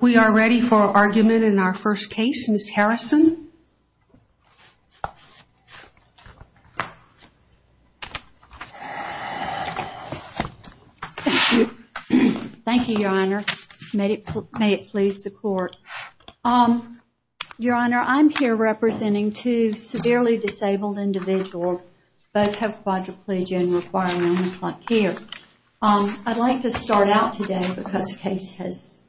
We are ready for argument in our first case, Ms. Harrison. Thank you, Your Honor. May it please the Court. Your Honor, I'm here representing two severely disabled individuals. Both have quadriplegian requirements like here. I'd like to start out today, because the case has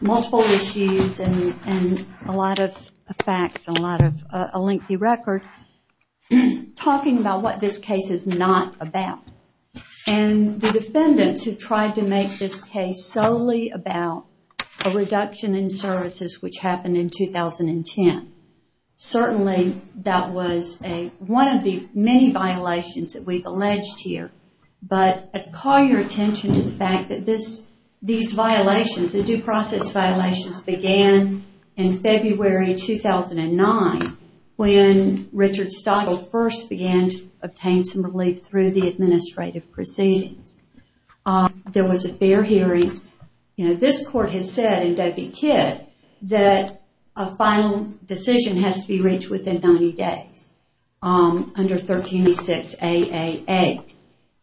multiple issues and a lot of facts and a lengthy record, talking about what this case is not about. And the defendants who tried to make this case solely about a reduction in services which happened in 2010. Certainly, that was one of the many violations that we've alleged here. But I'd call your attention to the fact that these violations, the due process violations, began in February 2009, when Richard Stogsdill first began to obtain some relief through the administrative proceedings. There was a fair hearing. This Court has said in Dovey Kidd that a final decision has to be reached within 90 days, under 136 A.A. 8.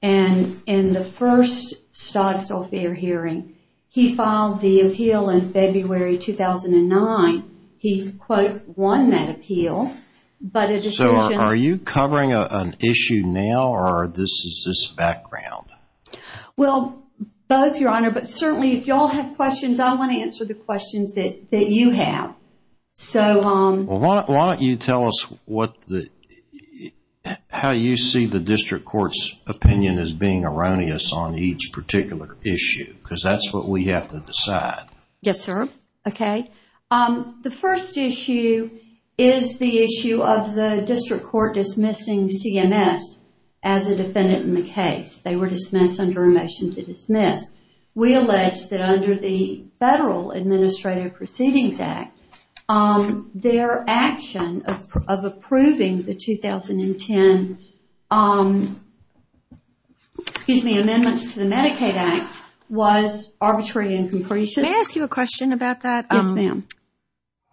In the first Stogsdill fair hearing, he filed the appeal in February 2009. He, quote, won that appeal. So, are you covering an issue now, or is this background? Well, both, Your Honor. But certainly, if you all have questions, I want to answer the questions that you have. Why don't you tell us how you see the District Court's opinion as being erroneous on each particular issue? Because that's what we have to decide. Yes, sir. Okay. The first issue is the issue of the District Court dismissing CMS as a defendant in the case. They were dismissed under a motion to dismiss. We allege that under the Federal Administrative Proceedings Act, their action of approving the 2010 amendments to the Medicaid Act was arbitrary and comprehensive. May I ask you a question about that? Yes, ma'am.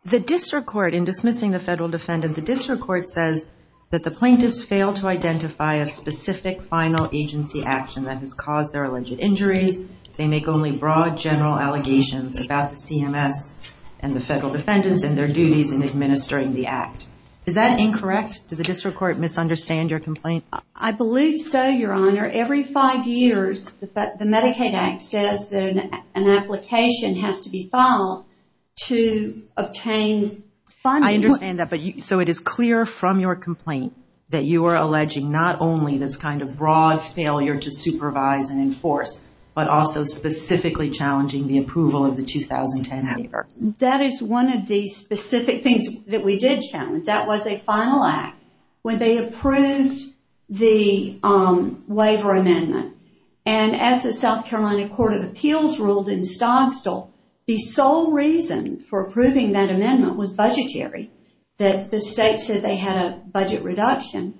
The District Court, in dismissing the federal defendant, the District Court says that the plaintiffs failed to identify a specific final agency action that has caused their alleged injuries. They make only broad, general allegations about the CMS and the federal defendants and their duties in administering the Act. Is that incorrect? Did the District Court misunderstand your complaint? I believe so, Your Honor. Every five years, the Medicaid Act says that an application has to be filed to obtain funding. I understand that. So it is clear from your complaint that you are alleging not only this kind of broad failure to supervise and enforce, but also specifically challenging the approval of the 2010 waiver. That is one of the specific things that we did challenge. That was a final act when they approved the waiver amendment. And as the South Carolina Court of Appeals ruled in Stogstall, the sole reason for approving that amendment was budgetary. The state said they had a budget reduction.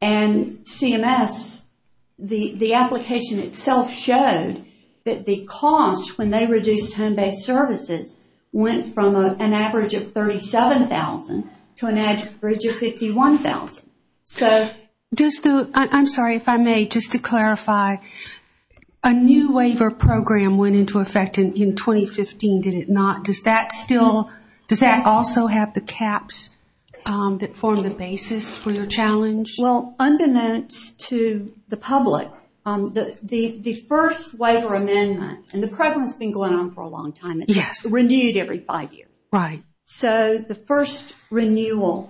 And CMS, the application itself showed that the cost when they reduced home-based services went from an average of $37,000 to an average of $51,000. I'm sorry, if I may, just to clarify, a new waiver program went into effect in 2015, did it not? Does that also have the caps that form the basis for your challenge? Well, unbeknownst to the public, the first waiver amendment, and the program has been going on for a long time, it's renewed every five years. Right. So the first renewal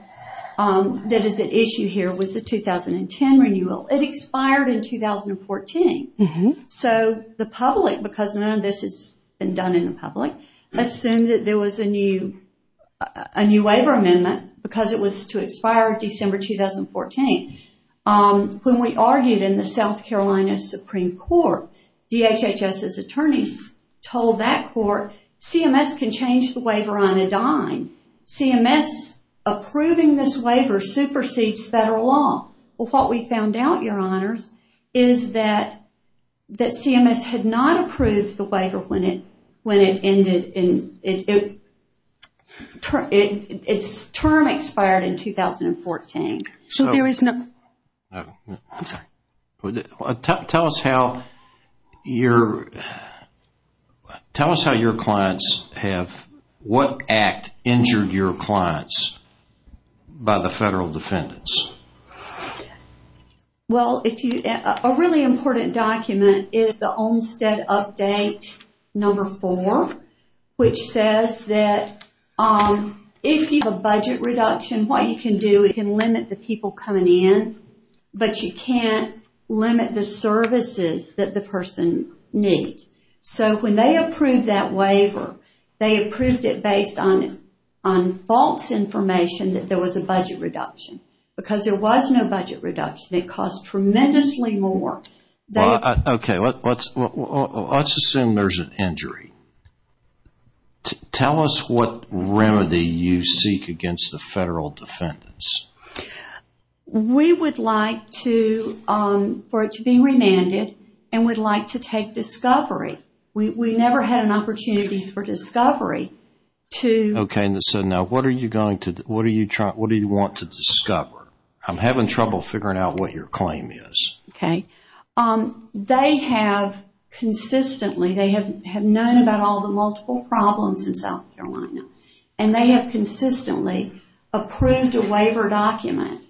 that is at issue here was the 2010 renewal. It expired in 2014. So the public, because none of this has been done in the public, assumed that there was a new waiver amendment because it was to expire December 2014. When we argued in the South Carolina Supreme Court, DHHS's attorneys told that court, CMS can change the waiver on a dime. CMS approving this waiver supersedes federal law. Well, what we found out, your honors, is that CMS had not approved the waiver when it ended in, its term expired in 2014. I'm sorry, tell us how your clients have, what act injured your clients by the federal defendants? Well, a really important document is the Olmstead update number four, which says that if you have a budget reduction, what you can do is you can limit the people coming in, but you can't limit the services that the person needs. So when they approved that waiver, they approved it based on false information that there was a budget reduction. Because there was no budget reduction, it cost tremendously more. Okay, let's assume there's an injury. Tell us what remedy you seek against the federal defendants. We would like for it to be remanded, and we'd like to take discovery. We never had an opportunity for discovery. Okay, so now what do you want to discover? I'm having trouble figuring out what your claim is. They have consistently, they have known about all the multiple problems in South Carolina, and they have consistently approved a waiver document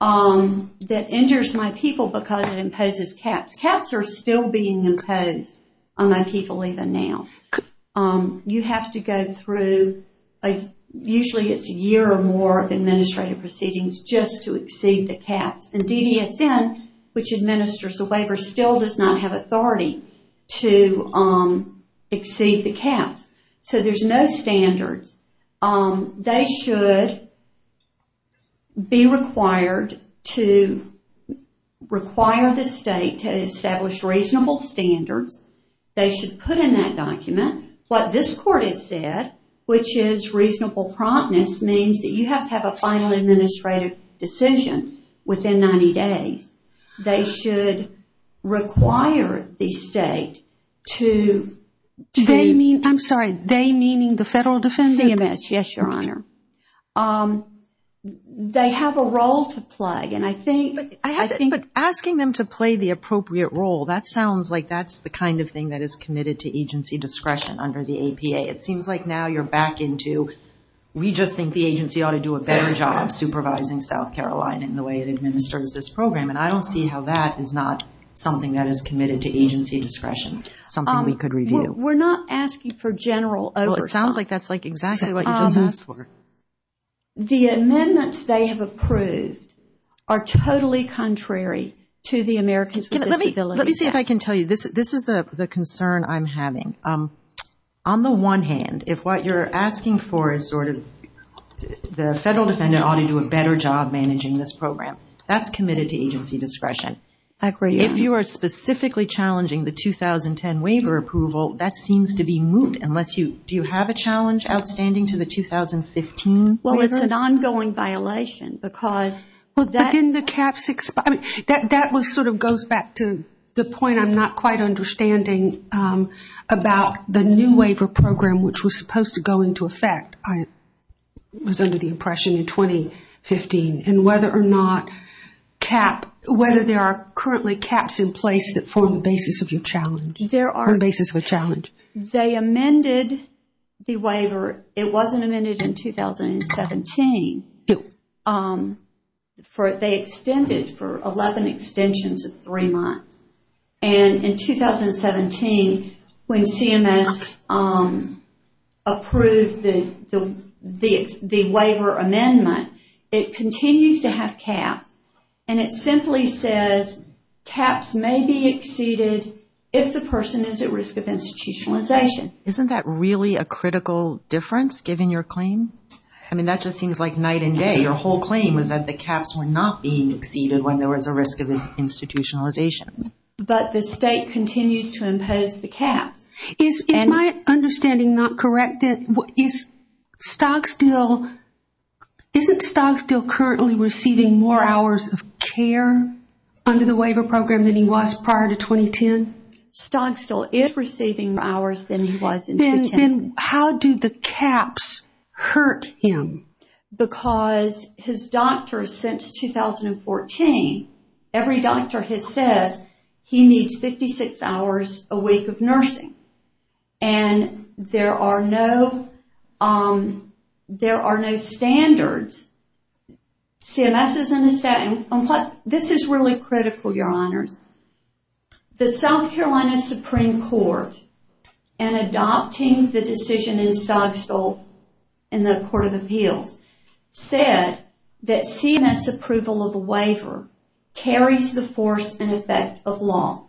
that injures my people because it imposes caps. Caps are still being imposed on my people even now. You have to go through, usually it's a year or more of administrative proceedings just to exceed the caps. And DDSN, which administers the waiver, still does not have authority to exceed the caps. So there's no standards. They should be required to require the state to establish reasonable standards. They should put in that document what this court has said, which is reasonable promptness means that you have to have a final administrative decision within 90 days. They should require the state to... Do they mean, I'm sorry, they meaning the federal defendants? CMS, yes, Your Honor. They have a role to play, and I think... But asking them to play the appropriate role, that sounds like that's the kind of thing that is committed to agency discretion under the APA. It seems like now you're back into, we just think the agency ought to do a better job supervising South Carolina in the way it administers this program, and I don't see how that is not something that is committed to agency discretion, something we could review. We're not asking for general oversight. Well, it sounds like that's exactly what you just asked for. The amendments they have approved are totally contrary to the Americans with Disabilities Act. Let me see if I can tell you, this is the concern I'm having. On the one hand, if what you're asking for is sort of the federal defendant ought to do a better job managing this program, that's committed to agency discretion. I agree. If you are specifically challenging the 2010 waiver approval, that seems to be moot, unless you... Do you have a challenge outstanding to the 2015 waiver? Well, it's an ongoing violation because... But didn't the Cap 65... About the new waiver program, which was supposed to go into effect, I was under the impression, in 2015, and whether or not there are currently caps in place that form the basis of your challenge, the basis of a challenge. They amended the waiver. It wasn't amended in 2017. They extended for 11 extensions of three months. And in 2017, when CMS approved the waiver amendment, it continues to have caps, and it simply says, caps may be exceeded if the person is at risk of institutionalization. Isn't that really a critical difference, given your claim? I mean, that just seems like night and day. Your whole claim was that the caps were not being exceeded when there was a risk of institutionalization. But the state continues to impose the caps. Is my understanding not correct? Is Stogsdill... Isn't Stogsdill currently receiving more hours of care under the waiver program than he was prior to 2010? Stogsdill is receiving more hours than he was in 2010. Then how do the caps hurt him? Because his doctors, since 2014, every doctor has said he needs 56 hours a week of nursing. And there are no standards. This is really critical, Your Honors. The South Carolina Supreme Court, in adopting the decision in Stogsdill in the Court of Appeals, said that CMS approval of a waiver carries the force and effect of law.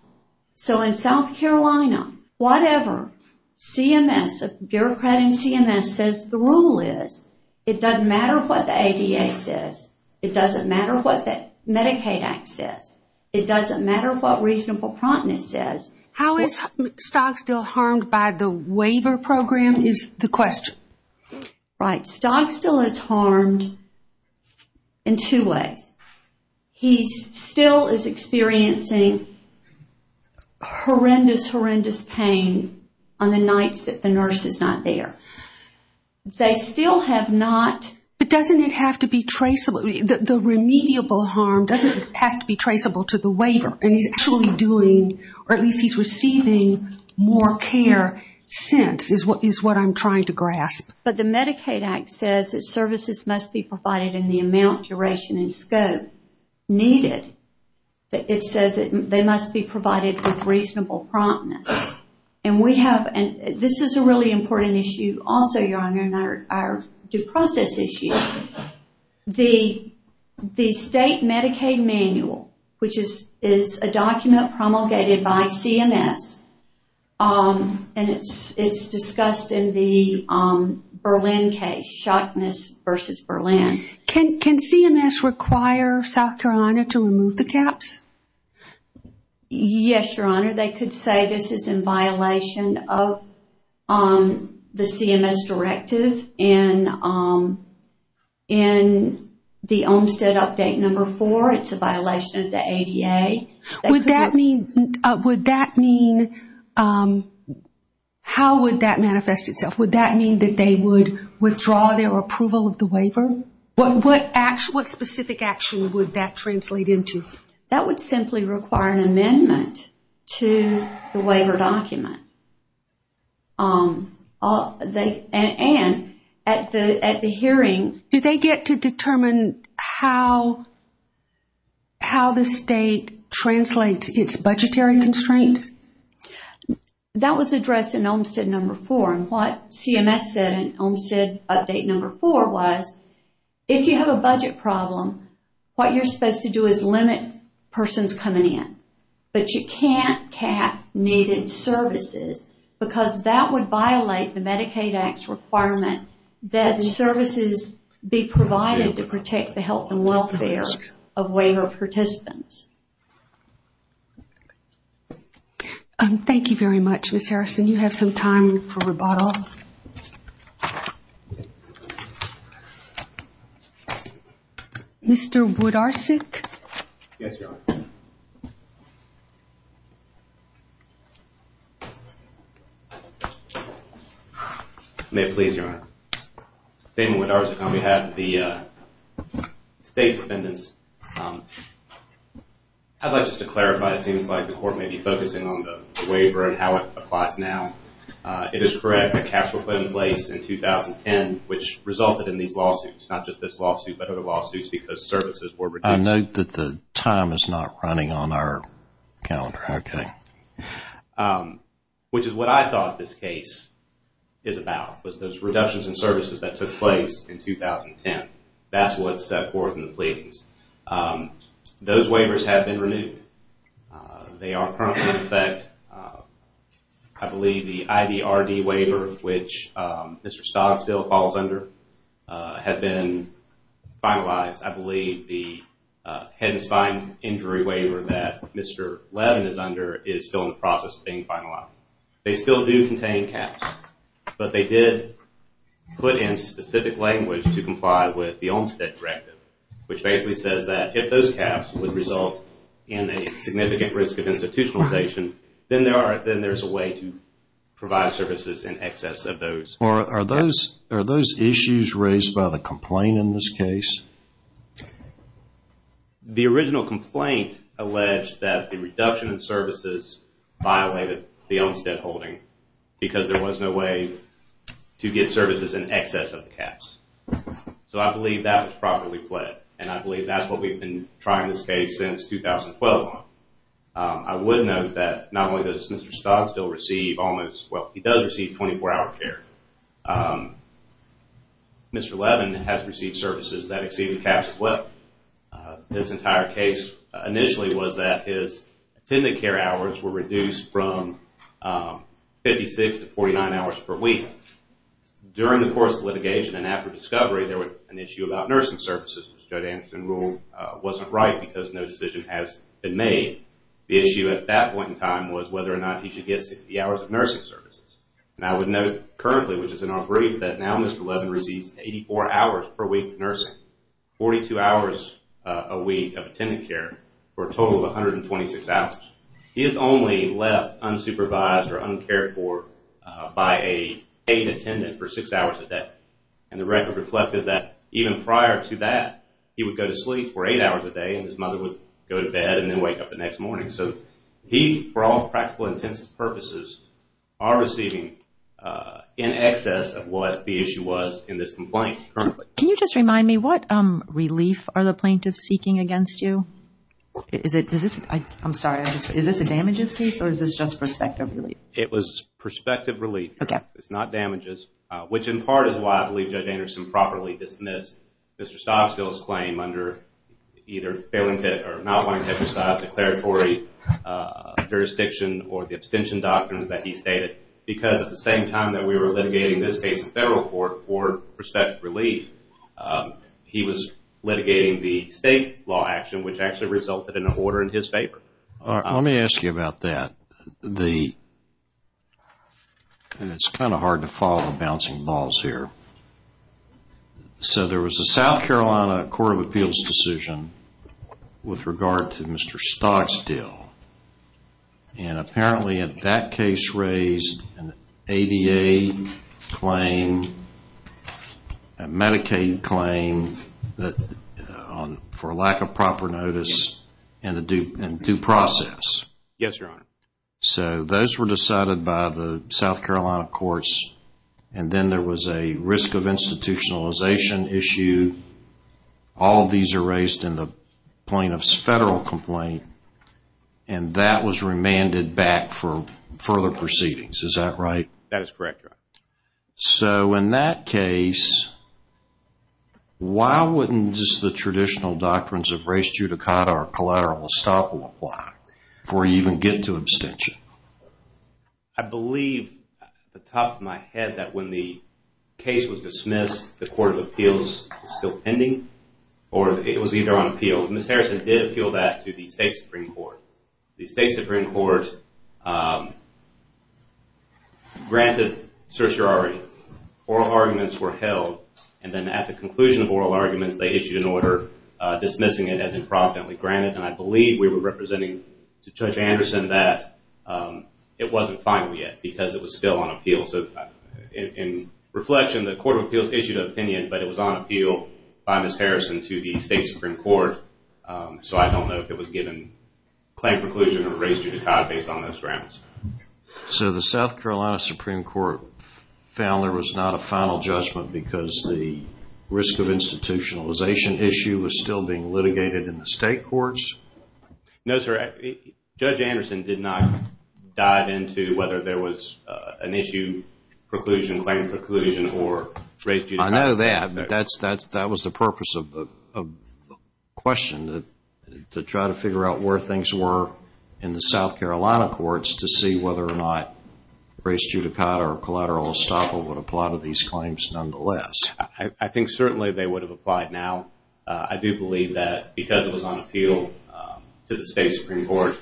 So in South Carolina, whatever, CMS, a bureaucrat in CMS, says the rule is it doesn't matter what the ADA says. It doesn't matter what the Medicaid Act says. It doesn't matter what reasonable promptness says. How is Stogsdill harmed by the waiver program is the question. Right. Stogsdill is harmed in two ways. He still is experiencing horrendous, horrendous pain on the nights that the nurse is not there. They still have not... But doesn't it have to be traceable? The remediable harm, doesn't it have to be traceable to the waiver? And he's actually doing, or at least he's receiving more care since, is what I'm trying to grasp. But the Medicaid Act says that services must be provided in the amount, duration, and scope needed. It says they must be provided with reasonable promptness. And we have, and this is a really important issue also, Your Honor, and our due process issue. The state Medicaid manual, which is a document promulgated by CMS, and it's discussed in the Berlin case, Shockness versus Berlin. Can CMS require South Carolina to remove the caps? Yes, Your Honor. They could say this is in violation of the CMS directive. And in the Olmstead update number four, it's a violation of the ADA. Would that mean, how would that manifest itself? Would that mean that they would withdraw their approval of the waiver? What specific action would that translate into? That would simply require an amendment to the waiver document. And at the hearing. Did they get to determine how the state translates its budgetary constraints? That was addressed in Olmstead number four. And what CMS said in Olmstead update number four was, if you have a budget problem, what you're supposed to do is limit persons coming in. But you can't cap needed services, because that would violate the Medicaid Act's requirement that services be provided to protect the health and welfare of waiver participants. Thank you very much, Ms. Harrison. You have some time for rebuttal. Rebuttal. Mr. Wodarczyk? Yes, Your Honor. May it please, Your Honor. Damon Wodarczyk on behalf of the state defendants. I'd like just to clarify, it seems like the court may be focusing on the waiver and how it applies now. It is correct. A capsule put in place in 2010, which resulted in these lawsuits. Not just this lawsuit, but other lawsuits because services were reduced. I note that the time is not running on our calendar. Okay. Which is what I thought this case is about, was those reductions in services that took place in 2010. That's what's set forth in the pleadings. Those waivers have been renewed. They are currently in effect, I believe the IVRD waiver, which Mr. Stogsville falls under, has been finalized. I believe the head and spine injury waiver that Mr. Levin is under is still in the process of being finalized. They still do contain caps, but they did put in specific language to comply with the Olmstead Directive, which basically says that if those caps would result in a significant risk of institutionalization, then there's a way to provide services in excess of those. Are those issues raised by the complaint in this case? The original complaint alleged that the reduction in services violated the Olmstead holding because there was no way to get services in excess of the caps. I believe that was properly pled. I believe that's what we've been trying this case since 2012 on. I would note that not only does Mr. Stogsville receive almost, well, he does receive 24-hour care. Mr. Levin has received services that exceed the caps. This entire case initially was that his attended care hours were reduced from 56 to 49 hours per week. During the course of litigation and after discovery, there was an issue about nursing services. Judge Anderson ruled it wasn't right because no decision has been made. The issue at that point in time was whether or not he should get 60 hours of nursing services. I would note currently, which is in our brief, that now Mr. Levin receives 84 hours per week of nursing, 42 hours a week of attended care for a total of 126 hours. He is only left unsupervised or uncared for by a paid attendant for 6 hours a day. The record reflected that even prior to that, he would go to sleep for 8 hours a day and his mother would go to bed and then wake up the next morning. He, for all practical intents and purposes, are receiving in excess of what the issue was in this complaint. Can you just remind me what relief are the plaintiffs seeking against you? Is this a damages case or is this just perspective relief? It was perspective relief. It's not damages, which in part is why I believe Judge Anderson properly dismissed Mr. Stobbsville's claim under either not wanting to exercise declaratory jurisdiction or the abstention doctrines that he stated because at the same time that we were litigating this case in federal court for perspective relief, he was litigating the state law action, which actually resulted in an order in his favor. Let me ask you about that. It's kind of hard to follow the bouncing balls here. So there was a South Carolina Court of Appeals decision with regard to Mr. Stobbsville and apparently in that case raised an ADA claim, a Medicaid claim for lack of proper notice and due process. Yes, Your Honor. So those were decided by the South Carolina courts and then there was a risk of institutionalization issue. All of these are raised in the plaintiff's federal complaint and that was remanded back for further proceedings. Is that right? That is correct, Your Honor. So in that case, why wouldn't the traditional doctrines of race judicata or collateral estoppel apply before you even get to abstention? I believe off the top of my head that when the case was dismissed, the Court of Appeals was still pending or it was either on appeal. Ms. Harrison did appeal that to the State Supreme Court. The State Supreme Court granted certiorari. Oral arguments were held and then at the conclusion of oral arguments, they issued an order dismissing it as improvidently granted and I believe we were representing to Judge Anderson that it wasn't final yet because it was still on appeal. So in reflection, the Court of Appeals issued an opinion, but it was on appeal by Ms. Harrison to the State Supreme Court. So I don't know if it was given claim preclusion or race judicata based on those grounds. So the South Carolina Supreme Court found there was not a final judgment because the risk of institutionalization issue was still being litigated in the state courts? No, sir. Judge Anderson did not dive into whether there was an issue preclusion, claim preclusion, or race judicata. I know that, but that was the purpose of the question to try to figure out where things were in the South Carolina courts to see whether or not race judicata or collateral estoppel would apply to these claims nonetheless. I think certainly they would have applied now. I do believe that because it was on appeal to the State Supreme Court,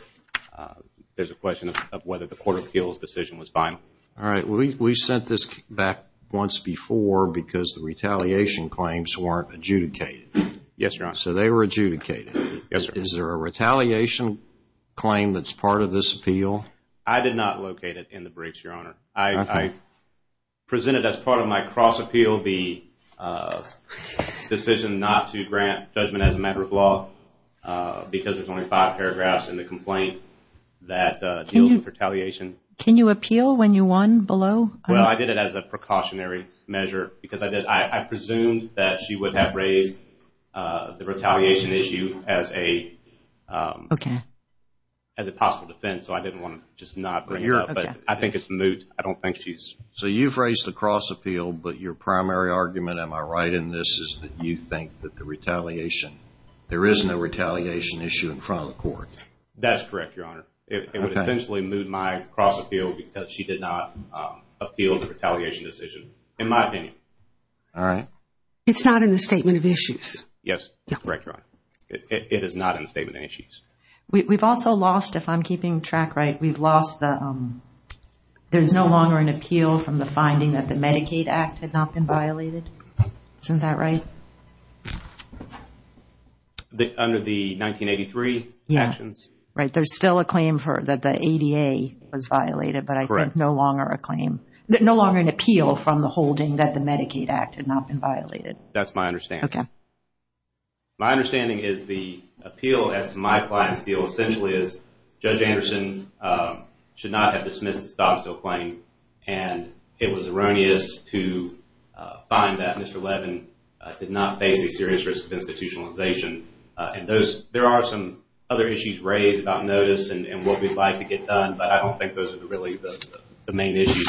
there's a question of whether the Court of Appeals decision was final. All right. We sent this back once before because the retaliation claims weren't adjudicated. Yes, Your Honor. So they were adjudicated. Yes, sir. Is there a retaliation claim that's part of this appeal? I did not locate it in the briefs, Your Honor. I presented as part of my cross-appeal the decision not to grant judgment as a matter of law because there's only five paragraphs in the complaint that deals with retaliation. Can you appeal when you won below? Well, I did it as a precautionary measure because I did. I assumed that she would have raised the retaliation issue as a possible defense, so I didn't want to just not bring it up. But I think it's moot. I don't think she's. So you've raised the cross-appeal, but your primary argument, am I right in this, is that you think that the retaliation, there is no retaliation issue in front of the court. That's correct, Your Honor. It would essentially moot my cross-appeal because she did not appeal the retaliation decision, in my opinion. All right. It's not in the statement of issues. Yes. Correct, Your Honor. It is not in the statement of issues. We've also lost, if I'm keeping track right, we've lost the there's no longer an appeal from the finding that the Medicaid Act had not been violated. Isn't that right? Under the 1983 actions. Right. There's still a claim that the ADA was violated, but I think no longer a claim. That's my understanding. Okay. My understanding is the appeal as to my client's deal essentially is, Judge Anderson should not have dismissed the stop-and-steal claim, and it was erroneous to find that Mr. Levin did not face a serious risk of institutionalization. And there are some other issues raised about notice and what we'd like to get done, but I don't think those are really the main issues.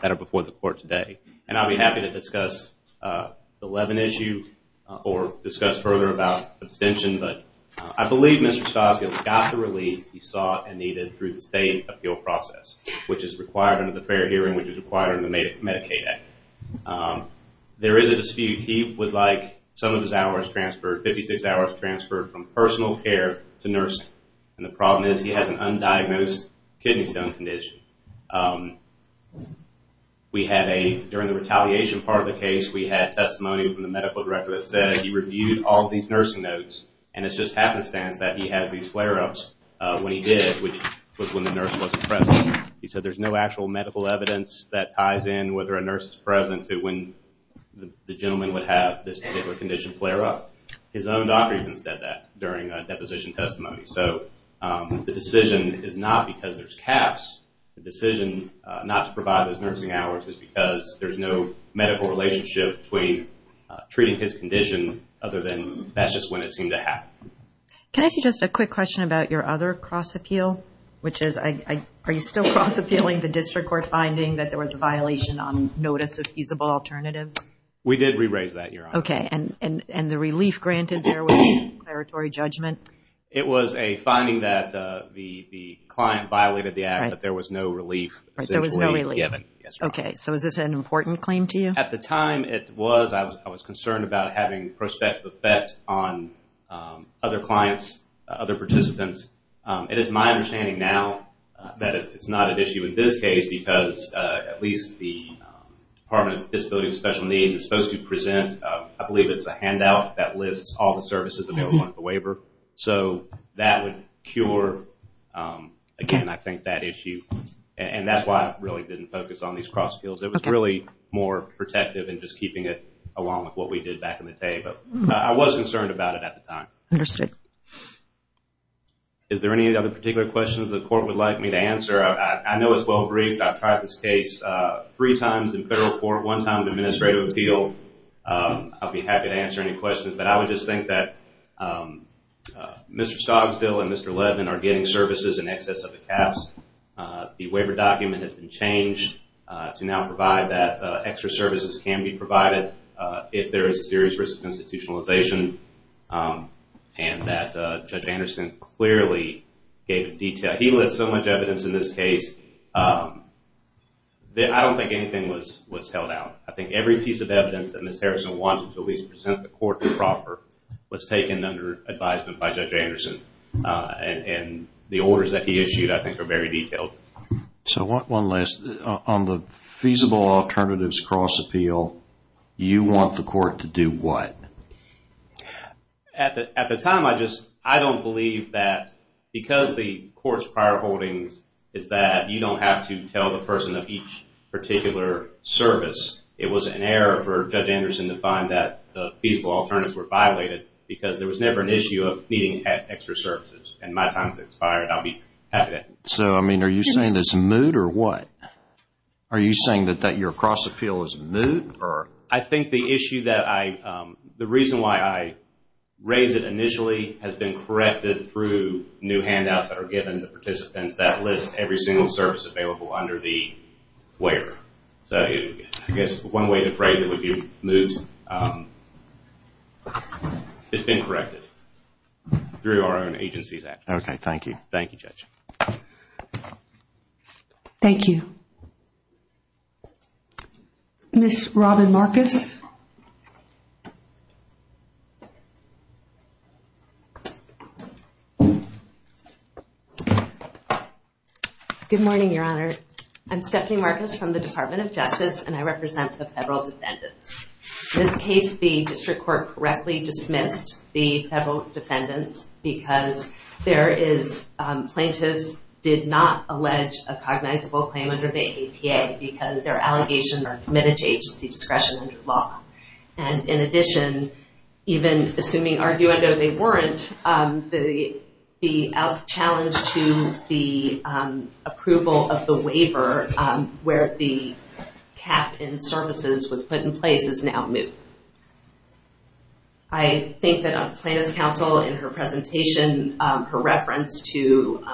That are before the court today. And I'll be happy to discuss the Levin issue or discuss further about abstention, but I believe Mr. Skoskis got the relief he sought and needed through the state appeal process, which is required under the fair hearing, which is required under the Medicaid Act. There is a dispute. He would like some of his hours transferred, 56 hours transferred from personal care to nursing. And the problem is he has an undiagnosed kidney stone condition. We had a, during the retaliation part of the case, we had testimony from the medical director that said he reviewed all these nursing notes and it's just happenstance that he has these flare-ups when he did, which was when the nurse wasn't present. He said there's no actual medical evidence that ties in whether a nurse is present to when the gentleman would have this particular condition flare-up. His own doctor even said that during a deposition testimony. So the decision is not because there's caps. The decision not to provide those nursing hours is because there's no medical relationship between treating his condition, other than that's just when it seemed to happen. Can I ask you just a quick question about your other cross-appeal, which is are you still cross-appealing the district court finding that there was a violation on notice of feasible alternatives? We did re-raise that, Your Honor. Okay, and the relief granted there was declaratory judgment? It was a finding that the client violated the act, but there was no relief essentially given. There was no relief. Yes, Your Honor. Okay, so is this an important claim to you? At the time it was. I was concerned about having prospective effect on other clients, other participants. It is my understanding now that it's not an issue in this case because at least the Department of Disability and Special Needs is supposed to present I believe it's a handout that lists all the services available under the waiver. So that would cure, again, I think that issue. And that's why I really didn't focus on these cross-appeals. It was really more protective and just keeping it along with what we did back in the day. But I was concerned about it at the time. Understood. Is there any other particular questions the court would like me to answer? I know it's well-briefed. I've tried this case three times in federal court, one time in administrative appeal. I'll be happy to answer any questions. But I would just think that Mr. Stogsdill and Mr. Levin are getting services in excess of the caps. The waiver document has been changed to now provide that extra services can be provided if there is a serious risk of institutionalization. And that Judge Anderson clearly gave detail. He lit so much evidence in this case. I don't think anything was held out. I think every piece of evidence that Ms. Harrison wanted to at least present the court proper was taken under advisement by Judge Anderson. And the orders that he issued, I think, are very detailed. So one last, on the feasible alternatives cross-appeal, you want the court to do what? At the time, I don't believe that because the court's prior holdings is that you don't have to tell the person of each particular service. It was an error for Judge Anderson to find that the feasible alternatives were violated because there was never an issue of needing extra services. And my time has expired. I'll be happy to answer. So, I mean, are you saying that it's moot or what? Are you saying that your cross-appeal is moot? I think the issue that I – the reason why I raise it initially has been corrected through new handouts that are given to participants that list every single service available under the where. So I guess one way to phrase it would be moot. It's been corrected through our own agency's actions. Okay, thank you. Thank you, Judge. Thank you. Ms. Robin Marcus. Good morning, Your Honor. I'm Stephanie Marcus from the Department of Justice, and I represent the federal defendants. In this case, the district court correctly dismissed the federal defendants because there is – plaintiffs did not allege a cognizable claim under the APA because their allegations are committed to agency discretion under the law. And in addition, even assuming arguendo they weren't, the challenge to the approval of the waiver where the cap in services was put in place is now moot. I think that plaintiff's counsel in her presentation, her reference to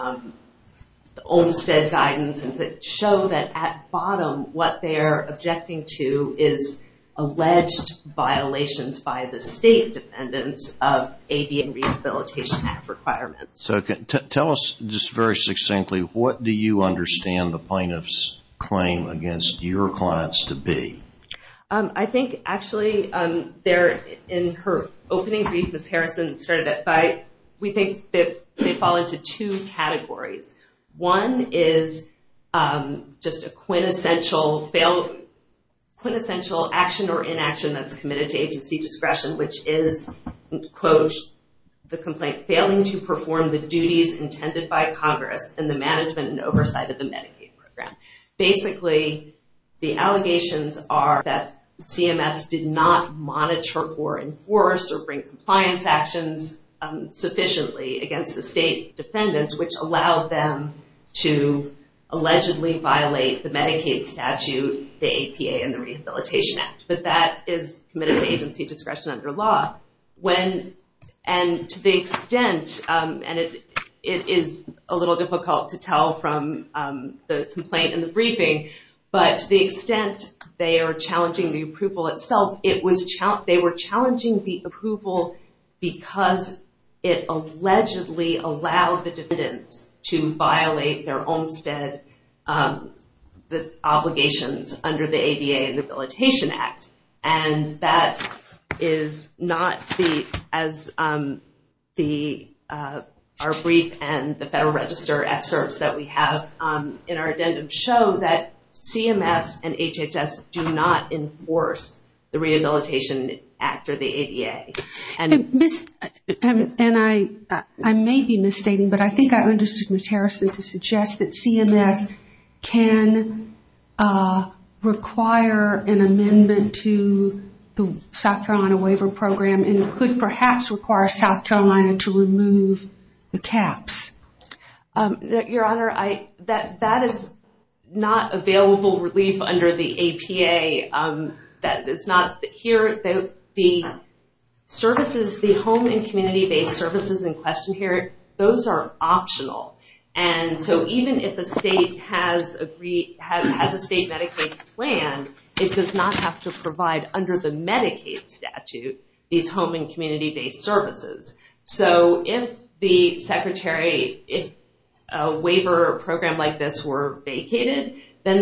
the Olmstead guidance, and to show that at bottom what they're objecting to is alleged violations by the state defendants of AD and Rehabilitation Act requirements. So tell us just very succinctly, what do you understand the plaintiff's claim against your clients to be? I think actually there in her opening brief, Ms. Harrison started it by we think that they fall into two categories. One is just a quintessential action or inaction that's committed to agency discretion, which is, quote, the complaint failing to perform the duties intended by Congress in the management and oversight of the Medicaid program. Basically the allegations are that CMS did not monitor or enforce or bring compliance actions sufficiently against the state defendants, which allowed them to allegedly violate the Medicaid statute, the APA, and the Rehabilitation Act. But that is committed to agency discretion under law. And to the extent, and it is a little difficult to tell from the complaint in the briefing, but to the extent they are challenging the approval itself, they were challenging the approval because it allegedly allowed the defendants to violate their Olmstead obligations under the ADA and the Rehabilitation Act. And that is not the, as our brief and the Federal Register excerpts that we have in our addendum show that CMS and HHS do not enforce the Rehabilitation Act or the ADA. And I may be misstating, but I think I understood Ms. Harrison to suggest that CMS can require an exemption to the South Carolina Waiver Program and could perhaps require South Carolina to remove the caps. Your Honor, that is not available relief under the APA. That is not here. The services, the home and community-based services in question here, those are optional. And so even if a state has a state Medicaid plan, it does not have to provide under the Medicaid statute these home and community-based services. So if the Secretary, if a waiver or a program like this were vacated, then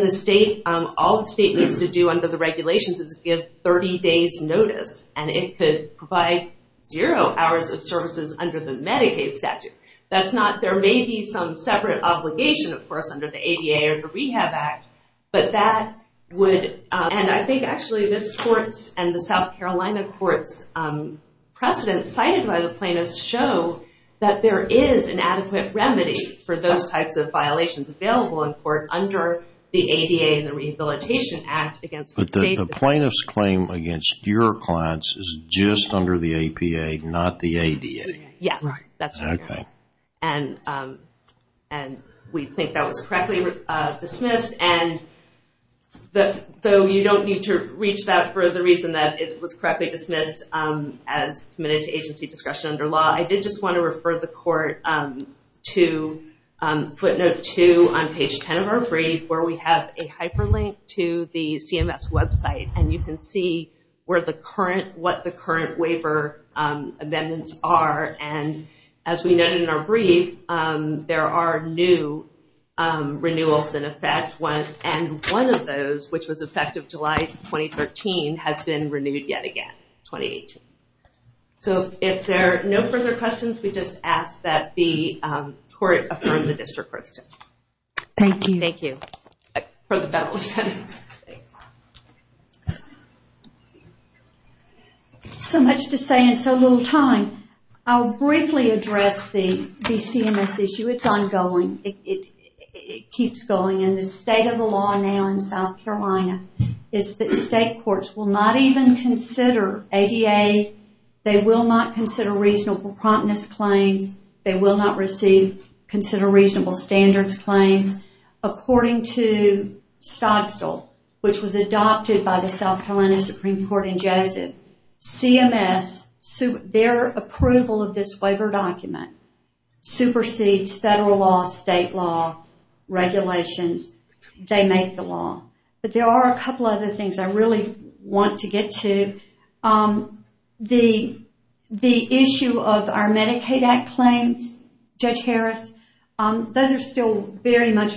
all the state needs to do under the regulations is give 30 days notice, and it could provide zero hours of services under the Medicaid statute. But that would, and I think actually this Court's and the South Carolina Court's precedent cited by the plaintiffs show that there is an adequate remedy for those types of violations available in court under the ADA and the Rehabilitation Act against the state. But the plaintiff's claim against your clients is just under the APA, Yes, that's right, Your Honor. And we think that was correctly dismissed, and though you don't need to reach that for the reason that it was correctly dismissed as committed to agency discretion under law, I did just want to refer the Court to footnote two on page 10 of our brief where we have a hyperlink to the CMS website, and you can see where the current, what the current waiver amendments are. And as we noted in our brief, there are new renewals in effect, and one of those, which was effective July 2013, has been renewed yet again, 2018. So if there are no further questions, we just ask that the Court affirm the District Court's judgment. Thank you. Thank you. For the Federalist Penance. Thanks. So much to say in so little time. I'll briefly address the CMS issue. It's ongoing. It keeps going, and the state of the law now in South Carolina is that state courts will not even consider ADA. They will not consider reasonable promptness claims. They will not receive consider reasonable standards claims. According to Stodstall, which was adopted by the South Carolina Supreme Court in Joseph, CMS, their approval of this waiver document, supersedes federal law, state law, regulations. They make the law. But there are a couple other things I really want to get to. The issue of our Medicaid Act claims, Judge Harris, those are still very much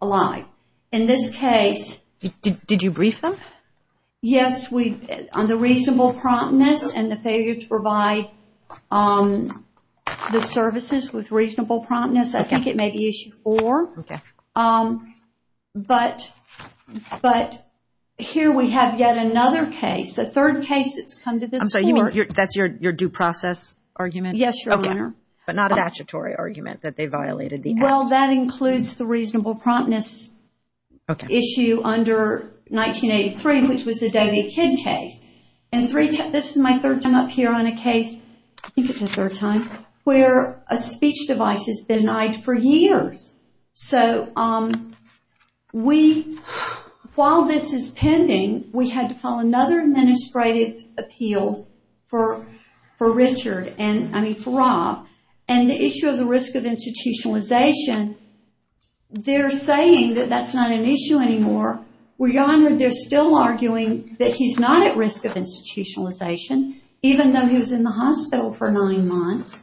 alive. In this case. Did you brief them? Yes, on the reasonable promptness and the failure to provide the services with reasonable promptness. I think it may be issue four. Okay. But here we have yet another case, a third case that's come to this Court. I'm sorry, that's your due process argument? Yes, Your Honor. But not a statutory argument that they violated the Act. Well, that includes the reasonable promptness issue under 1983, which was the Doty Kidd case. And this is my third time up here on a case, I think it's the third time, where a speech device has been denied for years. So while this is pending, we had to file another administrative appeal for Richard, I mean for Rob, and the issue of the risk of institutionalization, they're saying that that's not an issue anymore. Well, Your Honor, they're still arguing that he's not at risk of institutionalization, even though he was in the hospital for nine months.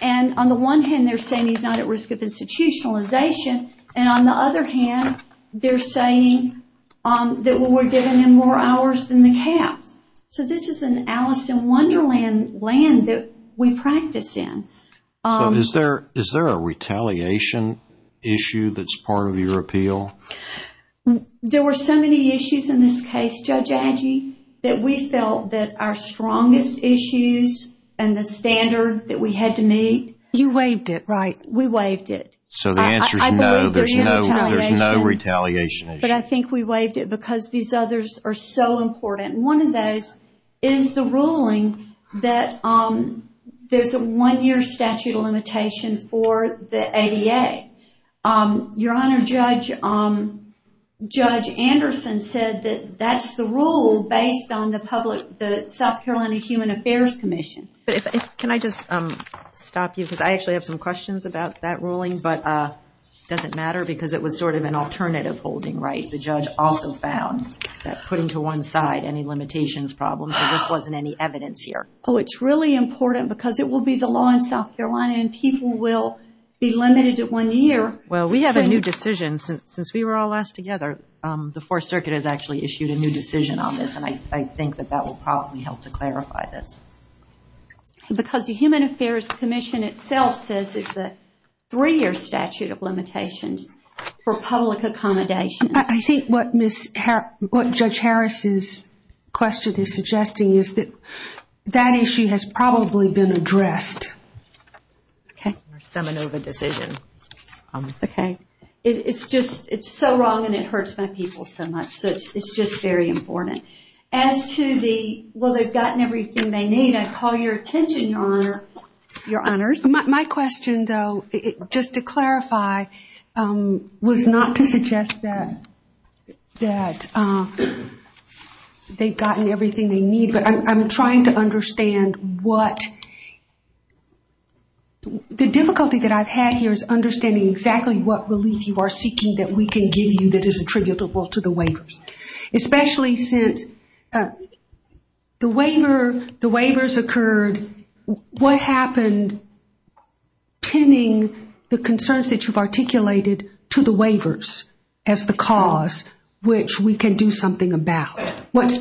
And on the one hand, they're saying he's not at risk of institutionalization, and on the other hand, they're saying that we're giving him more hours than the caps. So this is an Alice in Wonderland land that we practice in. So is there a retaliation issue that's part of your appeal? There were so many issues in this case, Judge Agee, that we felt that our strongest issues and the standard that we had to meet. You waived it, right? We waived it. So the answer is no, there's no retaliation issue. But I think we waived it because these others are so important. One of those is the ruling that there's a one-year statute of limitation for the ADA. Your Honor, Judge Anderson said that that's the rule based on the South Carolina Human Affairs Commission. Can I just stop you? Because I actually have some questions about that ruling, but it doesn't matter because it was sort of an alternative holding, right? The judge also found that putting to one side any limitations problem, so this wasn't any evidence here. Oh, it's really important because it will be the law in South Carolina and people will be limited to one year. Well, we have a new decision since we were all asked together. The Fourth Circuit has actually issued a new decision on this, and I think that that will probably help to clarify this. Because the Human Affairs Commission itself says it's a three-year statute of limitations for public accommodations. I think what Judge Harris's question is suggesting is that that issue has probably been addressed. Or some other decision. It's just so wrong and it hurts my people so much, so it's just very important. As to the, well, they've gotten everything they need, I'd call your attention, Your Honor. Your Honors. My question, though, just to clarify, was not to suggest that they've gotten everything they need, but I'm trying to understand what the difficulty that I've had here is understanding exactly what relief you are seeking that we can give you that is attributable to the waivers. Especially since the waivers occurred, what happened pinning the concerns that you've articulated to the waivers as the cause, which we can do something about? What's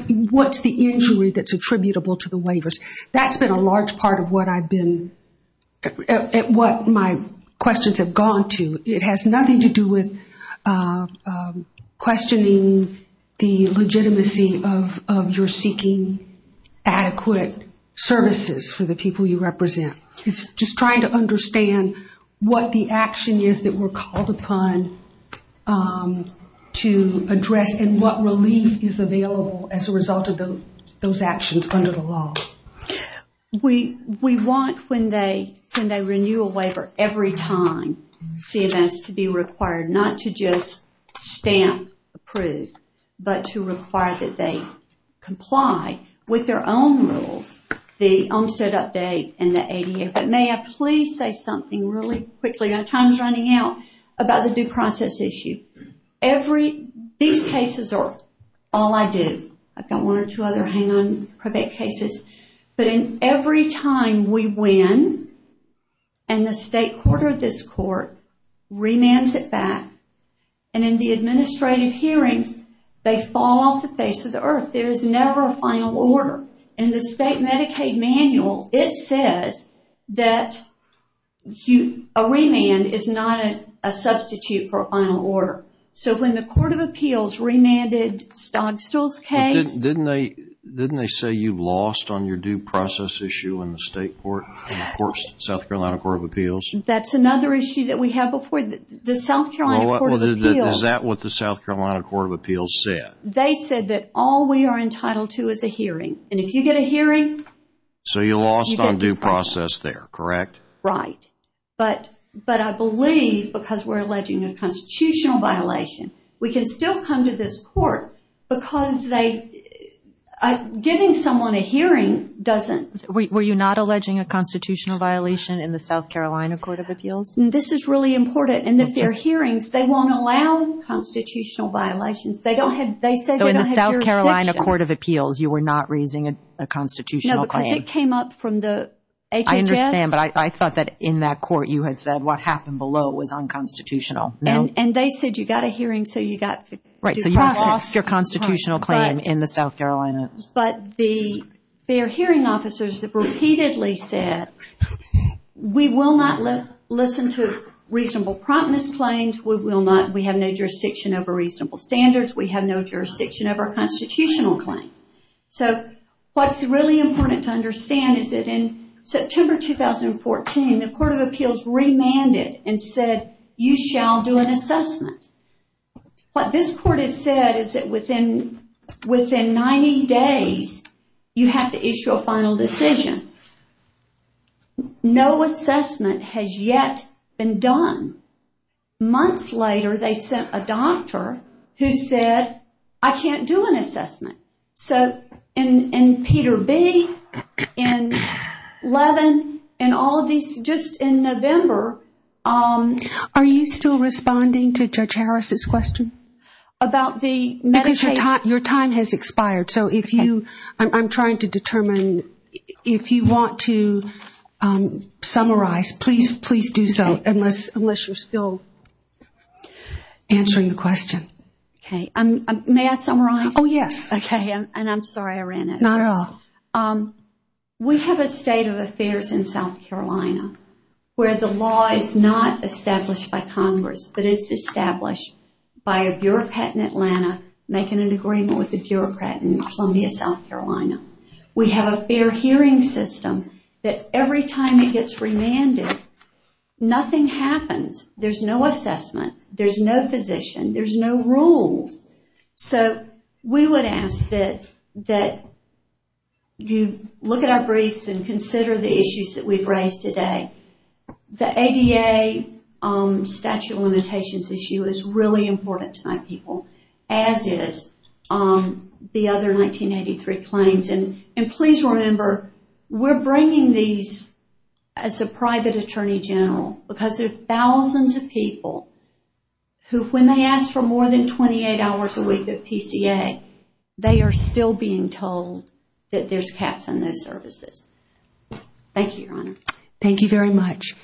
the injury that's attributable to the waivers? That's been a large part of what my questions have gone to. It has nothing to do with questioning the legitimacy of your seeking adequate services for the people you represent. It's just trying to understand what the action is that we're called upon to address and what relief is available as a result of those actions under the law. We want, when they renew a waiver, every time CMS to be required, not to just stamp approve, but to require that they comply with their own rules, the OMSA update and the ADA. But may I please say something really quickly? Our time's running out about the due process issue. These cases are all I do. I've got one or two other hang-on cases. But every time we win and the state court or this court remands it back, and in the administrative hearings, they fall off the face of the earth. There is never a final order. In the state Medicaid manual, it says that a remand is not a substitute for a final order. So when the Court of Appeals remanded Stogstall's case. Didn't they say you lost on your due process issue in the state court? Of course, South Carolina Court of Appeals. That's another issue that we have before. The South Carolina Court of Appeals. Is that what the South Carolina Court of Appeals said? They said that all we are entitled to is a hearing. And if you get a hearing. So you lost on due process there, correct? Right. But I believe because we're alleging a constitutional violation, we can still come to this court because giving someone a hearing doesn't. Were you not alleging a constitutional violation in the South Carolina Court of Appeals? This is really important. In their hearings, they won't allow constitutional violations. They said they don't have jurisdiction. So in the South Carolina Court of Appeals, you were not raising a constitutional claim. No, because it came up from the HHS. I understand, but I thought that in that court you had said what happened below was unconstitutional. And they said you got a hearing so you got due process. Right, so you lost your constitutional claim in the South Carolina. But the fair hearing officers have repeatedly said, we will not listen to reasonable promptness claims. We will not. We have no jurisdiction over reasonable standards. We have no jurisdiction over a constitutional claim. So what's really important to understand is that in September 2014, the Court of Appeals remanded and said you shall do an assessment. What this court has said is that within 90 days, you have to issue a final decision. No assessment has yet been done. Months later, they sent a doctor who said, I can't do an assessment. So in Peter B., in Levin, and all of these, just in November. Are you still responding to Judge Harris' question? Because your time has expired. So if you, I'm trying to determine, if you want to summarize, please do so. Unless you're still answering the question. May I summarize? Oh, yes. Okay, and I'm sorry I ran out. Not at all. We have a state of affairs in South Carolina where the law is not established by Congress, but it's established by a bureaucrat in Atlanta making an agreement with a bureaucrat in Columbia, South Carolina. We have a fair hearing system that every time it gets remanded, nothing happens. There's no assessment. There's no physician. There's no rules. So we would ask that you look at our briefs and consider the issues that we've raised today. The ADA statute of limitations issue is really important to my people, as is the other 1983 claims. And please remember, we're bringing these as a private attorney general because there are thousands of people who, when they ask for more than 28 hours a week at PCA, they are still being told that there's caps on those services. Thank you, Your Honor. Thank you very much.